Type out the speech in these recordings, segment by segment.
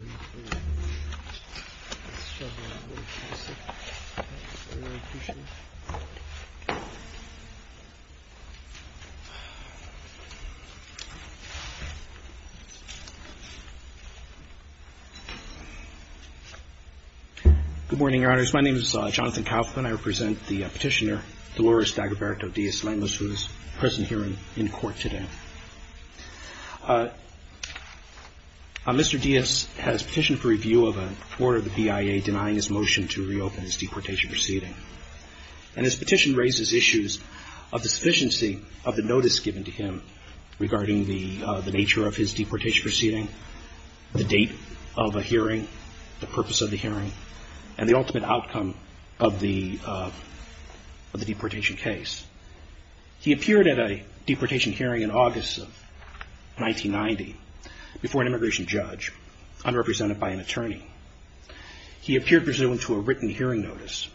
Good morning, Your Honors. My name is Jonathan Kaufman. I represent the petitioner Dolores of the BIA denying his motion to reopen his deportation proceeding. And his petition raises issues of the sufficiency of the notice given to him regarding the nature of his deportation proceeding, the date of a hearing, the purpose of the hearing, and the ultimate outcome of the deportation case. He appeared at a deportation hearing in August of 1990 before an immigration judge, unrepresented by an attorney. He appeared presumed to a written hearing notice.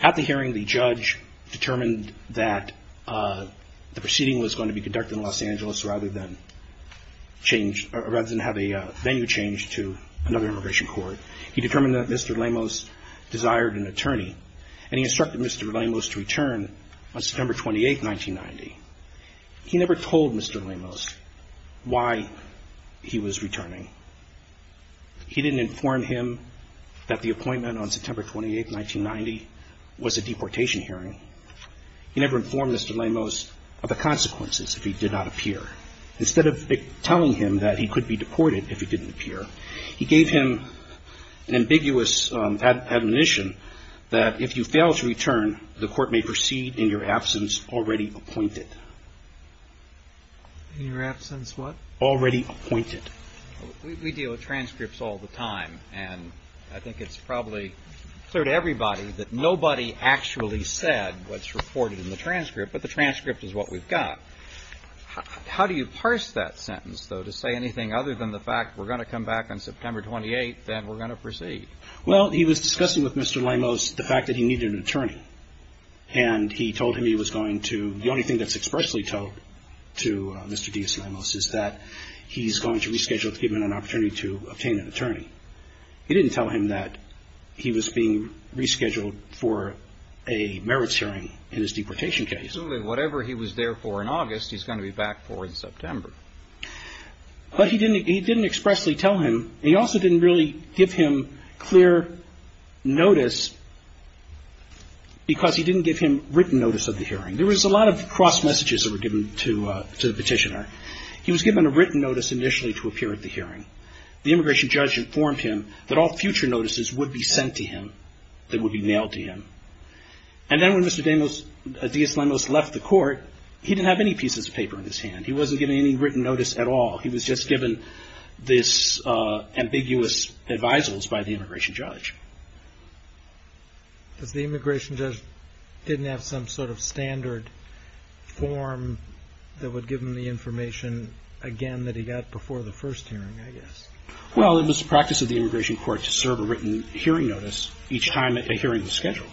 At the hearing, the judge determined that the proceeding was going to be conducted in Los Angeles rather than have a venue change to another immigration court. He determined that Mr. Lemos desired an attorney, and he instructed Mr. Lemos to return on September 28, 1990. He never told Mr. Lemos why he was returning. He didn't inform him that the appointment on September 28, 1990 was a deportation hearing. He never informed Mr. Lemos of the consequences if he did not appear. Instead of telling him that he could be deported if he didn't appear, he gave him an ambiguous admonition that if you fail to return, the court may proceed in your absence already appointed. We deal with transcripts all the time, and I think it's probably clear to everybody that nobody actually said what's reported in the transcript, but the transcript is what we've got. How do you parse that sentence, though, to say anything other than the fact we're going to come back on September 28 and we're going to proceed? Well, he was discussing with Mr. Lemos the fact that he needed an attorney, and he told him he was going to – the only thing that's expressly told to Mr. D.S. Lemos is that he's going to reschedule to give him an opportunity to obtain an attorney. He didn't tell him that he was being rescheduled for a merits hearing in his deportation case. Absolutely. Whatever he was there for in August, he's going to be back for in September. But he didn't expressly tell him, and he also didn't really give him clear notice because he didn't give him written notice of the hearing. There was a lot of cross-messages that were given to the petitioner. He was given a written notice initially to appear at the hearing. The immigration judge informed him that all future notices would be sent to him, that would be mailed to him. And then when Mr. D.S. Lemos left the court, he didn't have any pieces of paper in his hand. He wasn't given any written notice at all. He was just given this ambiguous advisals by the immigration judge. Because the immigration judge didn't have some sort of standard form that would give him the information again that he got before the first hearing, I guess. Well, it was the practice of the immigration court to serve a written hearing notice each time that a hearing was scheduled.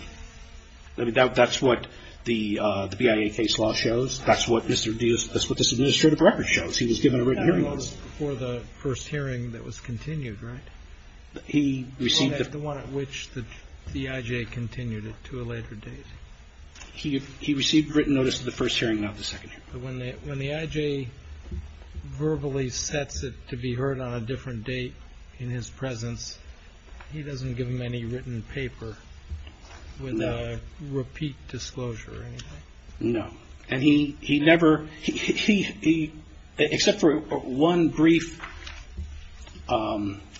I mean, that's what the BIA case law shows. That's what Mr. D.S. Lemos, that's what this administrative record shows. He was given a written hearing notice. He got a notice before the first hearing that was continued, right? He received the one at which the I.J. continued it to a later date. He received written notice of the first hearing, not the second hearing. But when the I.J. verbally sets it to be heard on a different date in his presence, he doesn't give him any written paper with a repeat disclosure or anything? No. And he never, except for one brief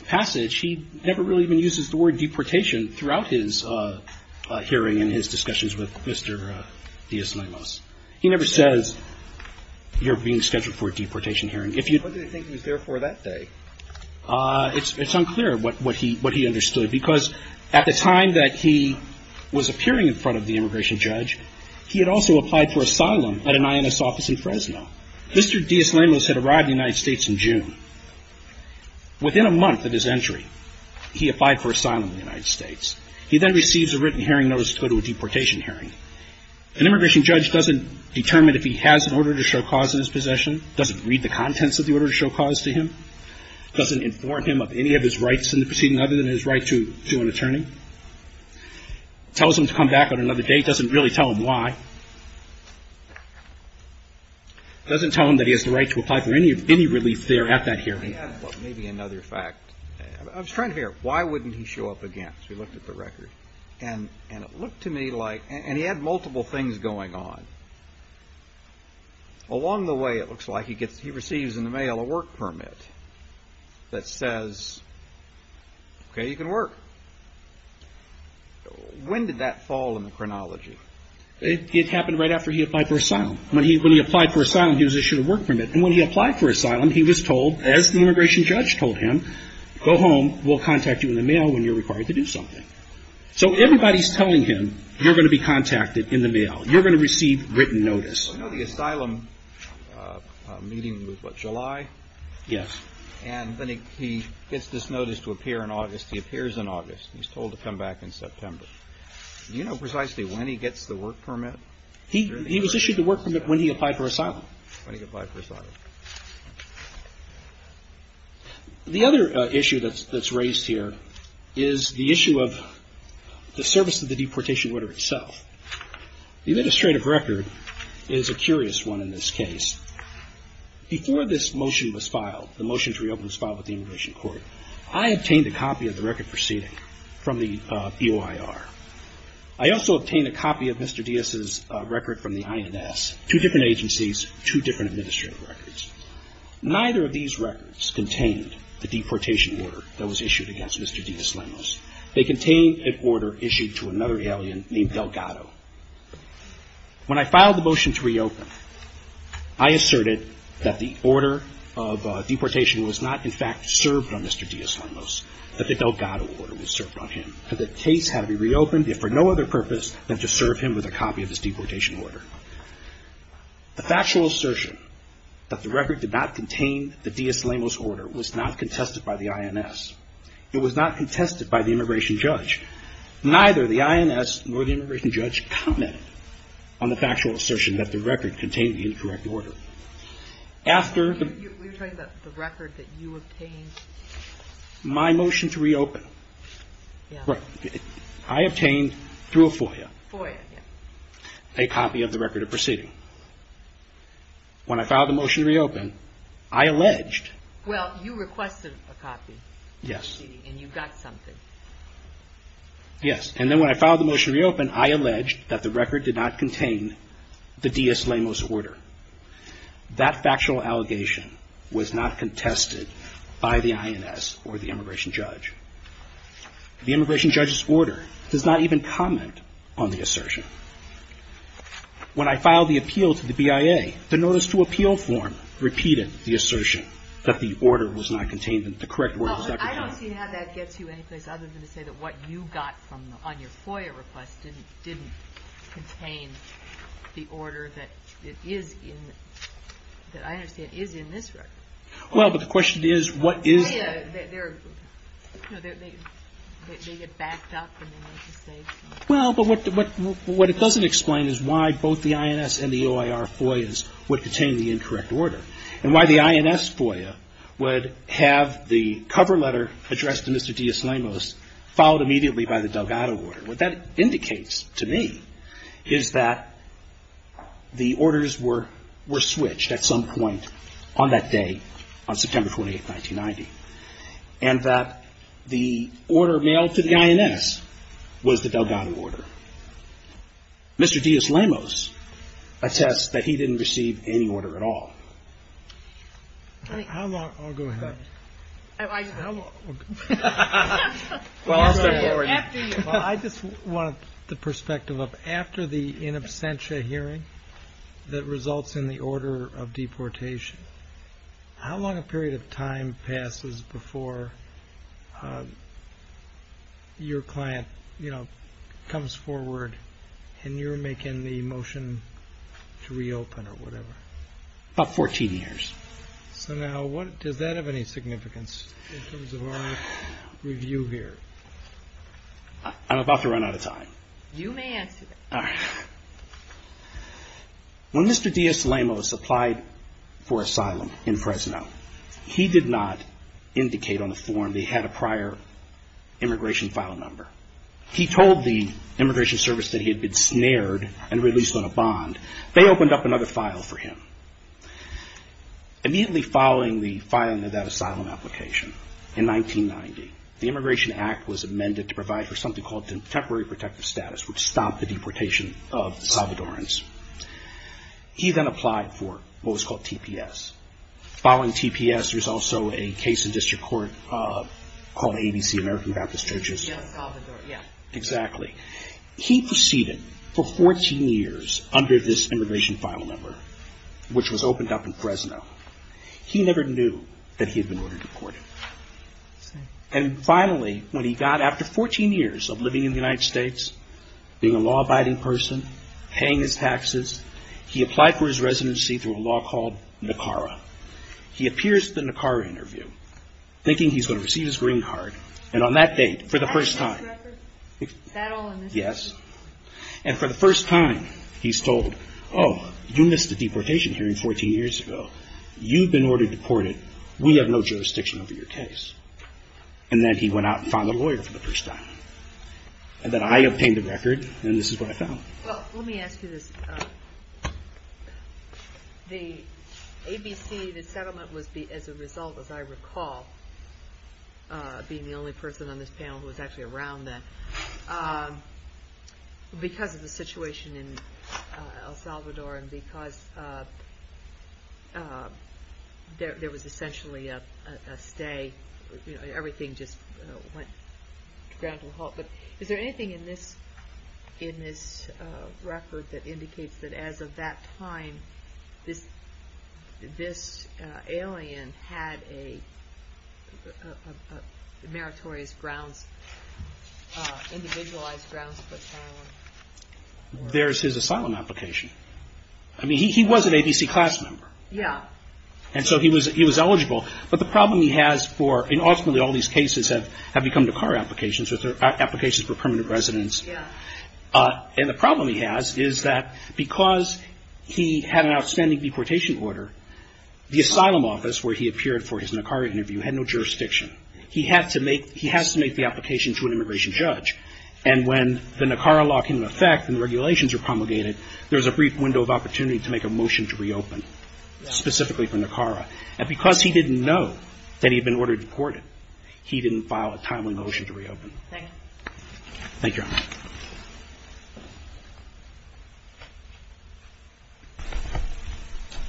passage, he never really even uses the word deportation throughout his hearing and his discussions with Mr. D.S. Lemos. He never says you're being scheduled for a deportation hearing. What did he think he was there for that day? It's unclear what he understood because at the time that he was appearing in front of the immigration judge, he had also applied for asylum at an I.N.S. office in Fresno. Mr. D.S. Lemos had arrived in the United States in June. Within a month of his entry, he applied for asylum in the United States. He then receives a written hearing notice to go to a deportation hearing. An immigration judge doesn't determine if he has an order to show cause in his possession, doesn't read the contents of the order to show cause to him, doesn't inform him of any of his rights in the proceeding other than his right to an attorney, tells him to come back on another date, doesn't really tell him why, doesn't tell him that he has the right to apply for any relief there at that hearing. Maybe another fact. I was trying to figure out why wouldn't he show up again because we looked at the record. And it looked to me like, and he had multiple things going on. Along the way, it looks like he receives in the mail a work permit that says, okay, you can work. When did that fall in the chronology? It happened right after he applied for asylum. When he applied for asylum, he was issued a work permit. And when he applied for asylum, he was told, as the immigration judge told him, go home. We'll contact you in the mail when you're required to do something. So everybody's telling him, you're going to be contacted in the mail. You're going to receive written notice. I know the asylum meeting was, what, July? Yes. And then he gets this notice to appear in August. He appears in August. He's told to come back in September. Do you know precisely when he gets the work permit? He was issued the work permit when he applied for asylum. When he applied for asylum. The other issue that's raised here is the issue of the service of the deportation order itself. The administrative record is a curious one in this case. Before this motion was filed, the motion to reopen was filed with the immigration court, I obtained a copy of the record proceeding from the EOIR. I also obtained a copy of Mr. Diaz's record from the INS, two different agencies, two different administrative records. Neither of these records contained the deportation order that was issued against Mr. Diaz-Lemmos. They contained an order issued to another alien named Delgado. When I filed the motion to reopen, I asserted that the order of deportation was not, in fact, served on Mr. Diaz-Lemmos, that the Delgado order was served on him. That the case had to be reopened, if for no other purpose, than to serve him with a copy of his deportation order. The factual assertion that the record did not contain the Diaz-Lemmos order was not contested by the INS. It was not contested by the immigration judge. Neither the INS nor the immigration judge commented on the factual assertion that the record contained the incorrect order. After the... We were talking about the record that you obtained. My motion to reopen. Yeah. I obtained through a FOIA. FOIA, yeah. A copy of the record of proceeding. When I filed the motion to reopen, I alleged... Well, you requested a copy. Yes. And you got something. Yes. And then when I filed the motion to reopen, I alleged that the record did not contain the Diaz-Lemmos order. That factual allegation was not contested by the INS or the immigration judge. The immigration judge's order does not even comment on the assertion. When I filed the appeal to the BIA, the notice to appeal form repeated the assertion that the order was not contained, that the correct order was not contained. I don't see how that gets you anyplace other than to say that what you got on your FOIA request didn't contain the order that is in... that I understand is in this record. Well, but the question is what is... The FOIA, they're... No, they get backed up and they make a statement. Well, but what it doesn't explain is why both the INS and the OIR FOIAs would contain the incorrect order and why the INS FOIA would have the cover letter addressed to Mr. Diaz-Lemmos followed immediately by the Delgado order. What that indicates to me is that the orders were switched at some point on that day, on September 28, 1990, and that the order mailed to the INS was the Delgado order. Mr. Diaz-Lemmos attests that he didn't receive any order at all. I mean, how long... Oh, go ahead. I... How long... Mr. Gordon. Well, I just want the perspective of after the in absentia hearing that results in the order of deportation, how long a period of time passes before your client, you know, comes forward and you're making the motion to reopen or whatever? About 14 years. So now, does that have any significance in terms of our review here? I'm about to run out of time. You may answer that. All right. When Mr. Diaz-Lemmos applied for asylum in Fresno, he did not indicate on the form that he had a prior immigration file number. He told the Immigration Service that he had been snared and released on a bond. They opened up another file for him. Immediately following the filing of that asylum application in 1990, the Immigration Act was amended to provide for something called temporary protective status, which stopped the deportation of Salvadorans. He then applied for what was called TPS. Following TPS, there's also a case in district court called ABC, American Baptist Churches. Yes, Salvador, yeah. Exactly. He proceeded for 14 years under this immigration file number, which was opened up in Fresno. He never knew that he had been ordered deported. And finally, when he got after 14 years of living in the United States, being a law-abiding person, paying his taxes, he applied for his residency through a law called NACARA. He appears at the NACARA interview thinking he's going to receive his green card, and on that date, for the first time, yes, and for the first time, he's told, oh, you missed the deportation hearing 14 years ago. You've been ordered deported. We have no jurisdiction over your case. And then he went out and found a lawyer for the first time. And then I obtained a record, and this is what I found. Well, let me ask you this. The ABC, the settlement was as a result, as I recall, being the only person on this panel who was actually around then, because of the situation in El Salvador and because there was essentially a stay. Everything just went to ground to a halt. But is there anything in this record that indicates that as of that time, this alien had a meritorious grounds, individualized grounds for asylum? There's his asylum application. I mean, he was an ABC class member. Yeah. And so he was eligible, but the problem he has for, and ultimately all these cases have become NACARA applications, which are applications for permanent residence. Yeah. And the problem he has is that because he had an outstanding deportation order, the asylum office where he appeared for his NACARA interview had no jurisdiction. He has to make the application to an immigration judge. And when the NACARA law came into effect and the regulations were promulgated, there was a brief window of opportunity to make a motion to reopen, specifically for NACARA. And because he didn't know that he had been ordered deported, he didn't file a timely motion to reopen. Thank you. Thank you.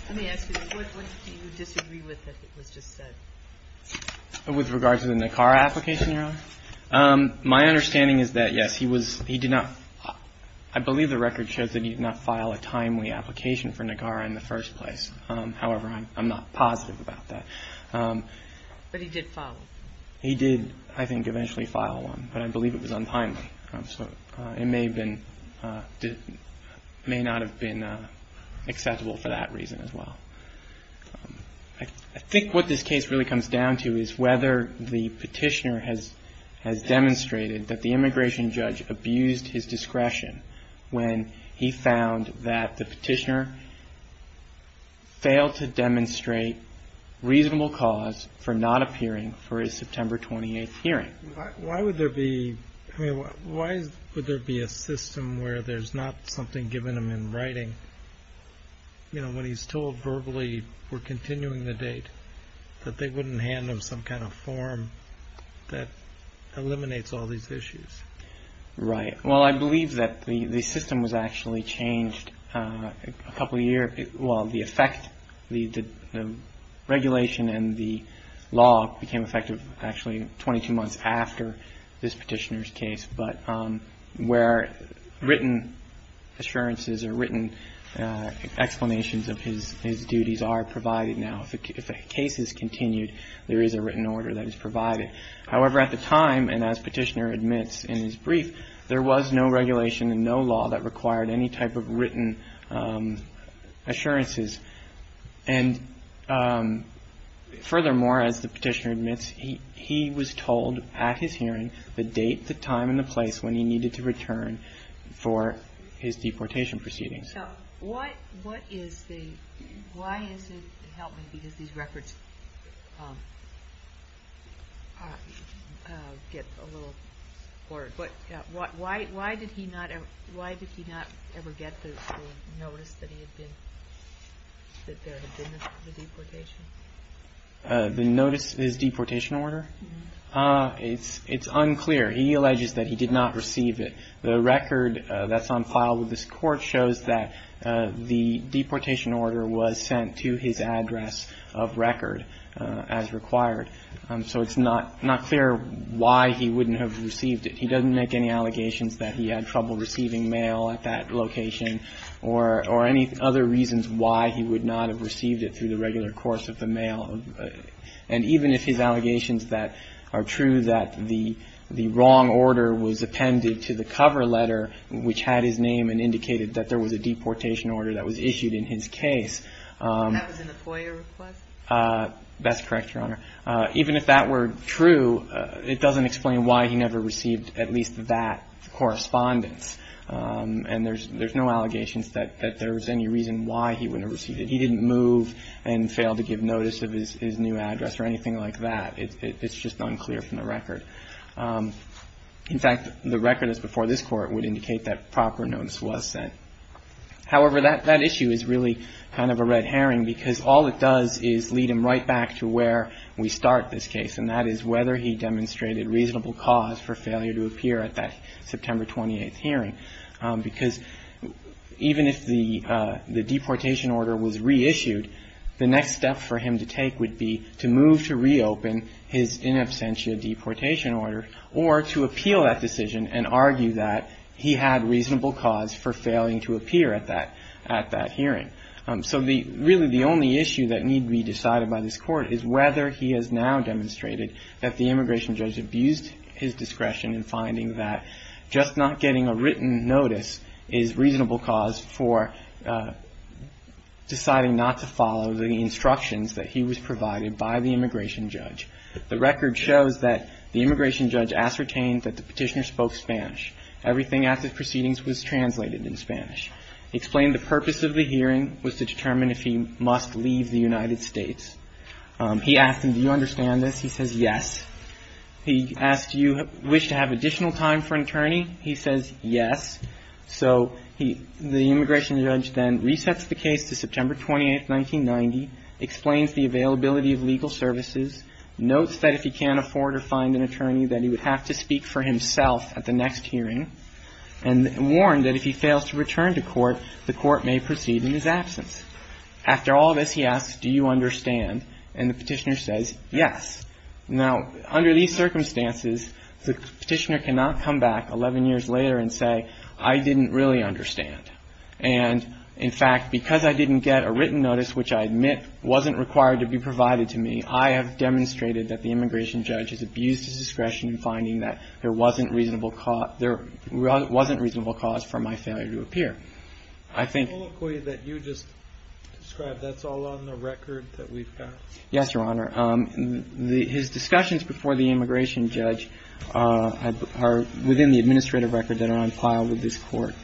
Let me ask you this. What do you disagree with that was just said? With regard to the NACARA application, Your Honor? My understanding is that, yes, he did not, I believe the record shows that he did not file a timely application for NACARA in the first place. However, I'm not positive about that. But he did file one. He did, I think, eventually file one. But I believe it was untimely. So it may not have been acceptable for that reason as well. I think what this case really comes down to is whether the petitioner has demonstrated that the immigration judge abused his discretion when he found that the petitioner was able to demonstrate reasonable cause for not appearing for his September 28th hearing. Why would there be a system where there's not something given him in writing, you know, when he's told verbally, we're continuing the date, that they wouldn't hand him some kind of form that eliminates all these issues? Right. Well, I believe that the system was actually changed a couple of years. Well, the effect, the regulation and the law became effective actually 22 months after this petitioner's case. But where written assurances or written explanations of his duties are provided now, if the case is continued, there is a written order that is provided. However, at the time, and as petitioner admits in his brief, there was no regulation and no law that required any type of written assurances. And furthermore, as the petitioner admits, he was told at his hearing the date, the time and the place when he needed to return for his deportation proceedings. Now, what is the, why is it, help me, because these records get a little, why did he not ever get the notice that he had been, that there had been a deportation? The notice, his deportation order? It's unclear. He alleges that he did not receive it. The record that's on file with this Court shows that the deportation order was sent to his address of record as required. So it's not clear why he wouldn't have received it. He doesn't make any allegations that he had trouble receiving mail at that location or any other reasons why he would not have received it through the regular course of the mail. And even if his allegations that are true, that the wrong order was appended to the cover letter which had his name and indicated that there was a deportation order that was issued in his case. That was in the FOIA request? That's correct, Your Honor. Even if that were true, it doesn't explain why he never received at least that correspondence. And there's no allegations that there was any reason why he wouldn't have received it, that he didn't move and fail to give notice of his new address or anything like that. It's just unclear from the record. In fact, the record that's before this Court would indicate that proper notice was sent. However, that issue is really kind of a red herring because all it does is lead him right back to where we start this case, and that is whether he demonstrated reasonable cause for failure to appear at that September 28th hearing. Because even if the deportation order was reissued, the next step for him to take would be to move to reopen his in absentia deportation order or to appeal that decision and argue that he had reasonable cause for failing to appear at that hearing. So really the only issue that need be decided by this Court is whether he has now demonstrated that the immigration judge abused his discretion in finding that just not getting a written notice is reasonable cause for deciding not to follow the instructions that he was provided by the immigration judge. The record shows that the immigration judge ascertained that the petitioner spoke Spanish. Everything at the proceedings was translated in Spanish. He explained the purpose of the hearing was to determine if he must leave the United States. He asked him, do you understand this? He says, yes. He asked, do you wish to have additional time for an attorney? He says, yes. So he, the immigration judge then resets the case to September 28th, 1990, explains the availability of legal services, notes that if he can't afford or find an attorney, that he would have to speak for himself at the next hearing, and warned that if he fails to return to court, the court may proceed in his absence. After all this, he asks, do you understand? And the petitioner says, yes. Now, under these circumstances, the petitioner cannot come back 11 years later and say, I didn't really understand. And, in fact, because I didn't get a written notice, which I admit wasn't required to be provided to me, I have demonstrated that the immigration judge has abused his discretion in finding that there wasn't reasonable cause for my failure to appear. I think… The colloquy that you just described, that's all on the record that we've got? Yes, Your Honor. His discussions before the immigration judge are within the administrative record that are on file with this Court,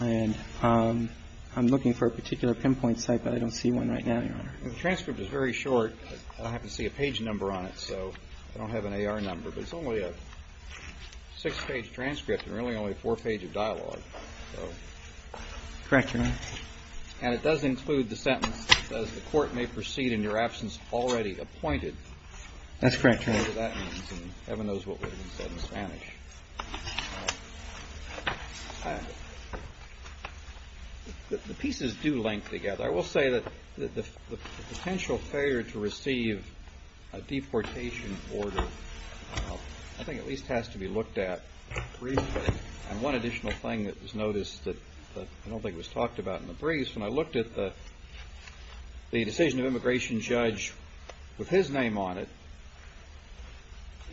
and I'm looking for a particular pinpoint site, but I don't see one right now, Your Honor. The transcript is very short. I happen to see a page number on it, so I don't have an AR number, but it's only a six-page transcript and really only a four-page of dialogue. Correct, Your Honor. And it does include the sentence that says, The Court may proceed in your absence already appointed. That's correct, Your Honor. Heaven knows what that means in Spanish. The pieces do link together. I will say that the potential failure to receive a deportation order, I think, at least has to be looked at reasonably. And one additional thing that was noticed that I don't think was talked about in the briefs, when I looked at the decision of immigration judge with his name on it,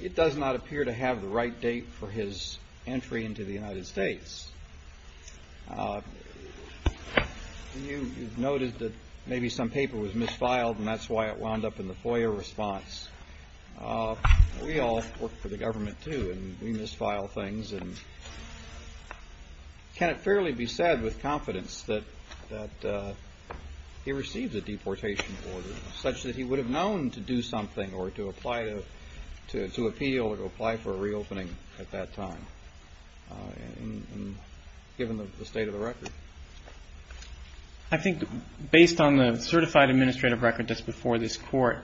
it does not appear to have the right date for his entry into the United States. You've noted that maybe some paper was misfiled, and that's why it wound up in the FOIA response. We all work for the government, too, and we misfile things. And can it fairly be said with confidence that he received a deportation order such that he would have known to do something or to apply to appeal or to apply for a reopening at that time, given the state of the record? I think, based on the certified administrative record that's before this Court,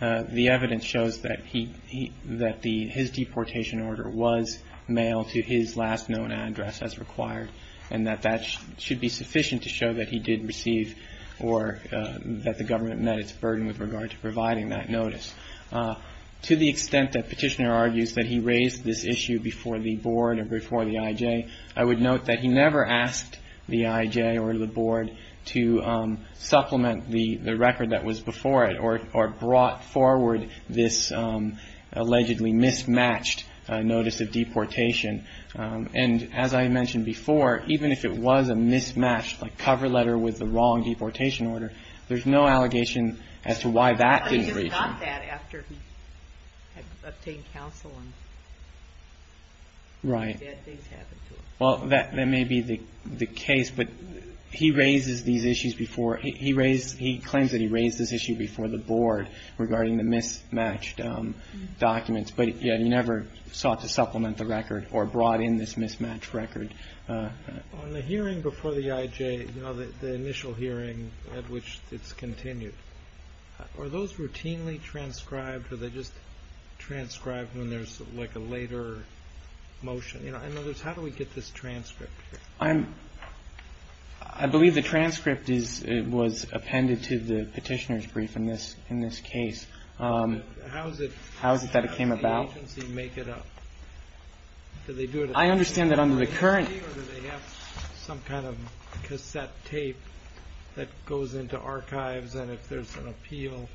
the evidence shows that his deportation order was mailed to his last known address as required, and that that should be sufficient to show that he did receive or that the government met its burden with regard to providing that notice. To the extent that Petitioner argues that he raised this issue before the Board or before the IJ, I would note that he never asked the IJ or the Board to supplement the record that was before it or brought forward this allegedly mismatched notice of deportation. And as I mentioned before, even if it was a mismatched cover letter with the wrong deportation order, there's no allegation as to why that didn't reach him. I think it's not that, after he had obtained counsel and bad things happened to him. Right. Well, that may be the case, but he raises these issues before. He claims that he raised this issue before the Board regarding the mismatched documents, but he never sought to supplement the record or brought in this mismatched record. On the hearing before the IJ, the initial hearing at which it's continued, are those routinely transcribed, or are they just transcribed when there's like a later motion? In other words, how do we get this transcript? I believe the transcript was appended to the Petitioner's brief in this case. How is it that it came about? How does the agency make it up? Do they do it at the agency or do they have some kind of cassette tape that goes into archives, and if there's an appeal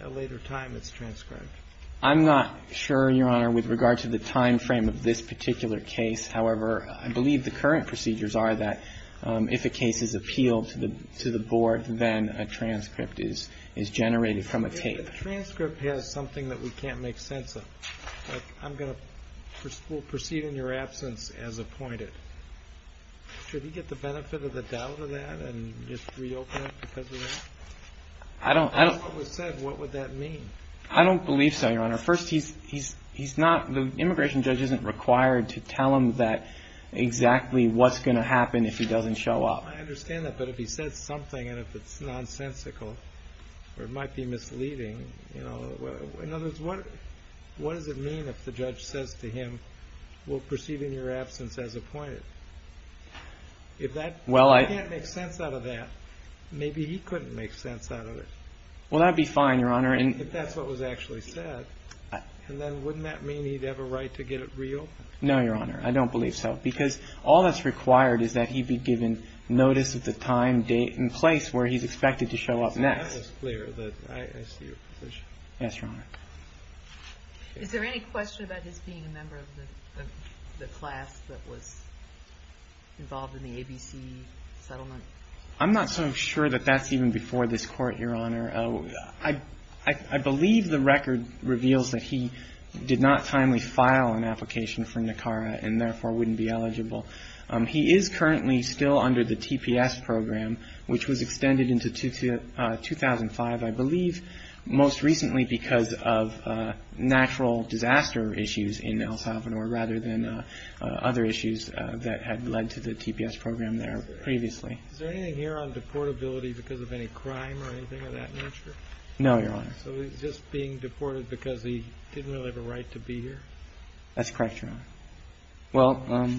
at a later time, it's transcribed? I'm not sure, Your Honor, with regard to the time frame of this particular case. However, I believe the current procedures are that if a case is appealed to the Board, then a transcript is generated from a tape. If a transcript has something that we can't make sense of, like I'm going to proceed in your absence as appointed, should he get the benefit of the doubt of that and just reopen it because of that? I don't know. If that's what was said, what would that mean? I don't believe so, Your Honor. First, the immigration judge isn't required to tell him exactly what's going to happen if he doesn't show up. I understand that, but if he says something and if it's nonsensical or it might be misleading, in other words, what does it mean if the judge says to him, we'll proceed in your absence as appointed? If I can't make sense out of that, maybe he couldn't make sense out of it. That would be fine, Your Honor. If that's what was actually said, then wouldn't that mean he'd have a right to get it reopened? No, Your Honor. I don't believe so because all that's required is that he be given notice of the time, date, and place where he's expected to show up next. That is clear. I see your position. Yes, Your Honor. Is there any question about his being a member of the class that was involved in the ABC settlement? I'm not so sure that that's even before this Court, Your Honor. I believe the record reveals that he did not timely file an application for NACARA and, therefore, wouldn't be eligible. He is currently still under the TPS program, which was extended into 2005, I believe, most recently because of natural disaster issues in El Salvador rather than other issues that had led to the TPS program there previously. Is there anything here on deportability because of any crime or anything of that nature? No, Your Honor. So he's just being deported because he didn't really have a right to be here? That's correct, Your Honor. Well,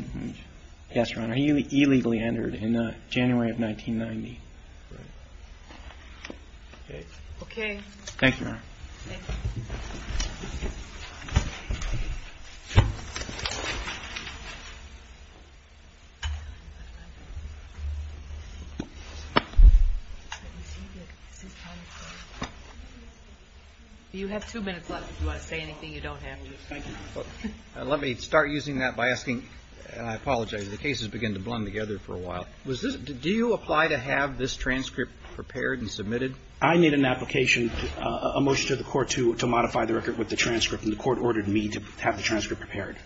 yes, Your Honor. He illegally entered in January of 1990. Right. Okay. Okay. Thank you, Your Honor. Thank you. Do you have two minutes left if you want to say anything you don't have? Thank you. Let me start using that by asking, and I apologize. The cases begin to blend together for a while. Do you apply to have this transcript prepared and submitted? I need an application, a motion to the Court to modify the record with the transcript, and the Court ordered me to have the transcript prepared.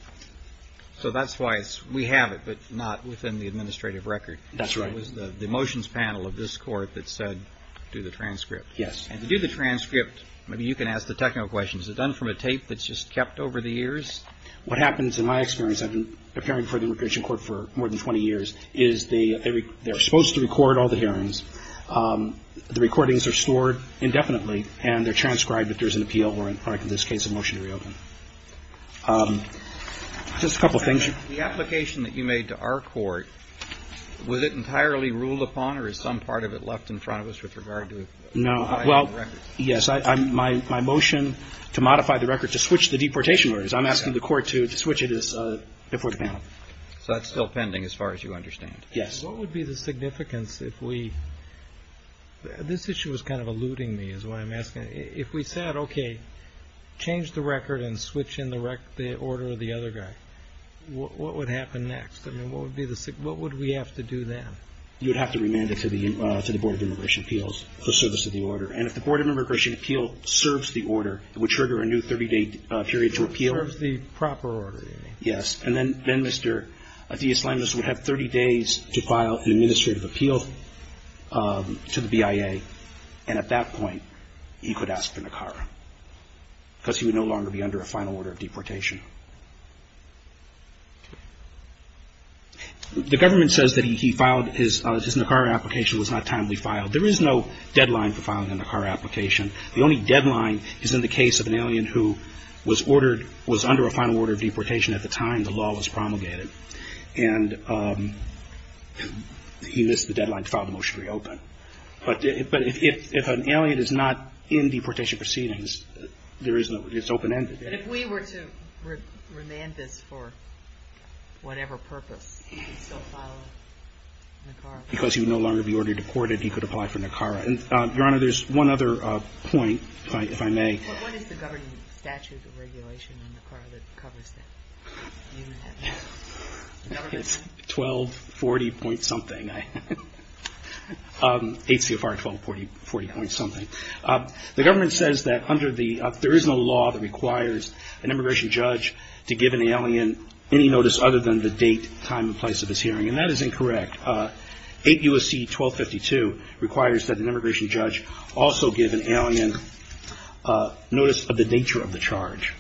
So that's why we have it, but not within the administrative record. That's right. It was the motions panel of this Court that said do the transcript. Yes. And to do the transcript, maybe you can ask the technical questions. Is it done from a tape that's just kept over the years? What happens, in my experience, I've been preparing for the immigration court for more than 20 years, is they're supposed to record all the hearings. The recordings are stored indefinitely, and they're transcribed if there's an appeal or, in this case, a motion to reopen. Just a couple of things. The application that you made to our court, was it entirely ruled upon or is some part of it left in front of us with regard to the records? No. Well, yes. My motion to modify the record, to switch the deportation orders, I'm asking the Court to switch it as a deportation panel. So that's still pending as far as you understand. Yes. What would be the significance if we – this issue is kind of eluding me is what I'm asking. If we said, okay, change the record and switch in the order of the other guy, what would happen next? I mean, what would be the – what would we have to do then? You would have to remand it to the Board of Immigration Appeals for service of the order. And if the Board of Immigration Appeals serves the order, it would trigger a new 30-day period to appeal. Serves the proper order, you mean? Yes. And then Mr. Diaz-Lemes would have 30 days to file an administrative appeal to the BIA, and at that point he could ask for Nicara because he would no longer be under a final order of deportation. The government says that he filed his – his Nicara application was not timely filed. There is no deadline for filing a Nicara application. The only deadline is in the case of an alien who was ordered – was under a final order of deportation at the time the law was promulgated, But if an alien is not in deportation proceedings, there is no – it's open-ended. And if we were to remand this for whatever purpose, he could still file a Nicara? Because he would no longer be ordered to court, he could apply for Nicara. And, Your Honor, there's one other point, if I may. What is the governing statute of regulation on Nicara that covers that? It's 1240-point-something. 8 CFR 1240-point-something. The government says that under the – there is no law that requires an immigration judge to give an alien any notice other than the date, time, and place of his hearing. And that is incorrect. 8 U.S.C. 1252 requires that an immigration judge also give an alien notice of the nature of the charge.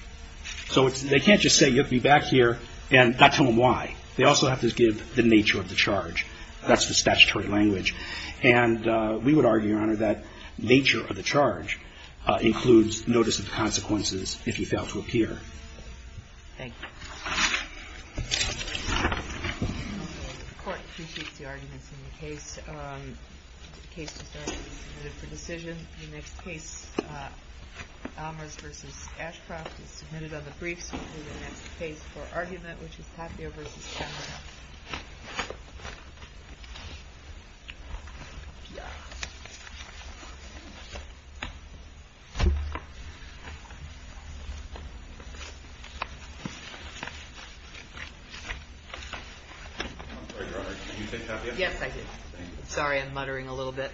So they can't just say, You'll be back here, and not tell them why. They also have to give the nature of the charge. That's the statutory language. And we would argue, Your Honor, that nature of the charge includes notice of consequences if he failed to appear. Thank you. The Court appreciates the arguments in the case. The case is now being submitted for decision. The next case, Almers v. Ashcroft, is submitted on the briefs. We'll hear the next case for argument, which is Happier v. Chandler. I'm sorry, Your Honor, did you say Happier? Yes, I did. Sorry, I'm muttering a little bit.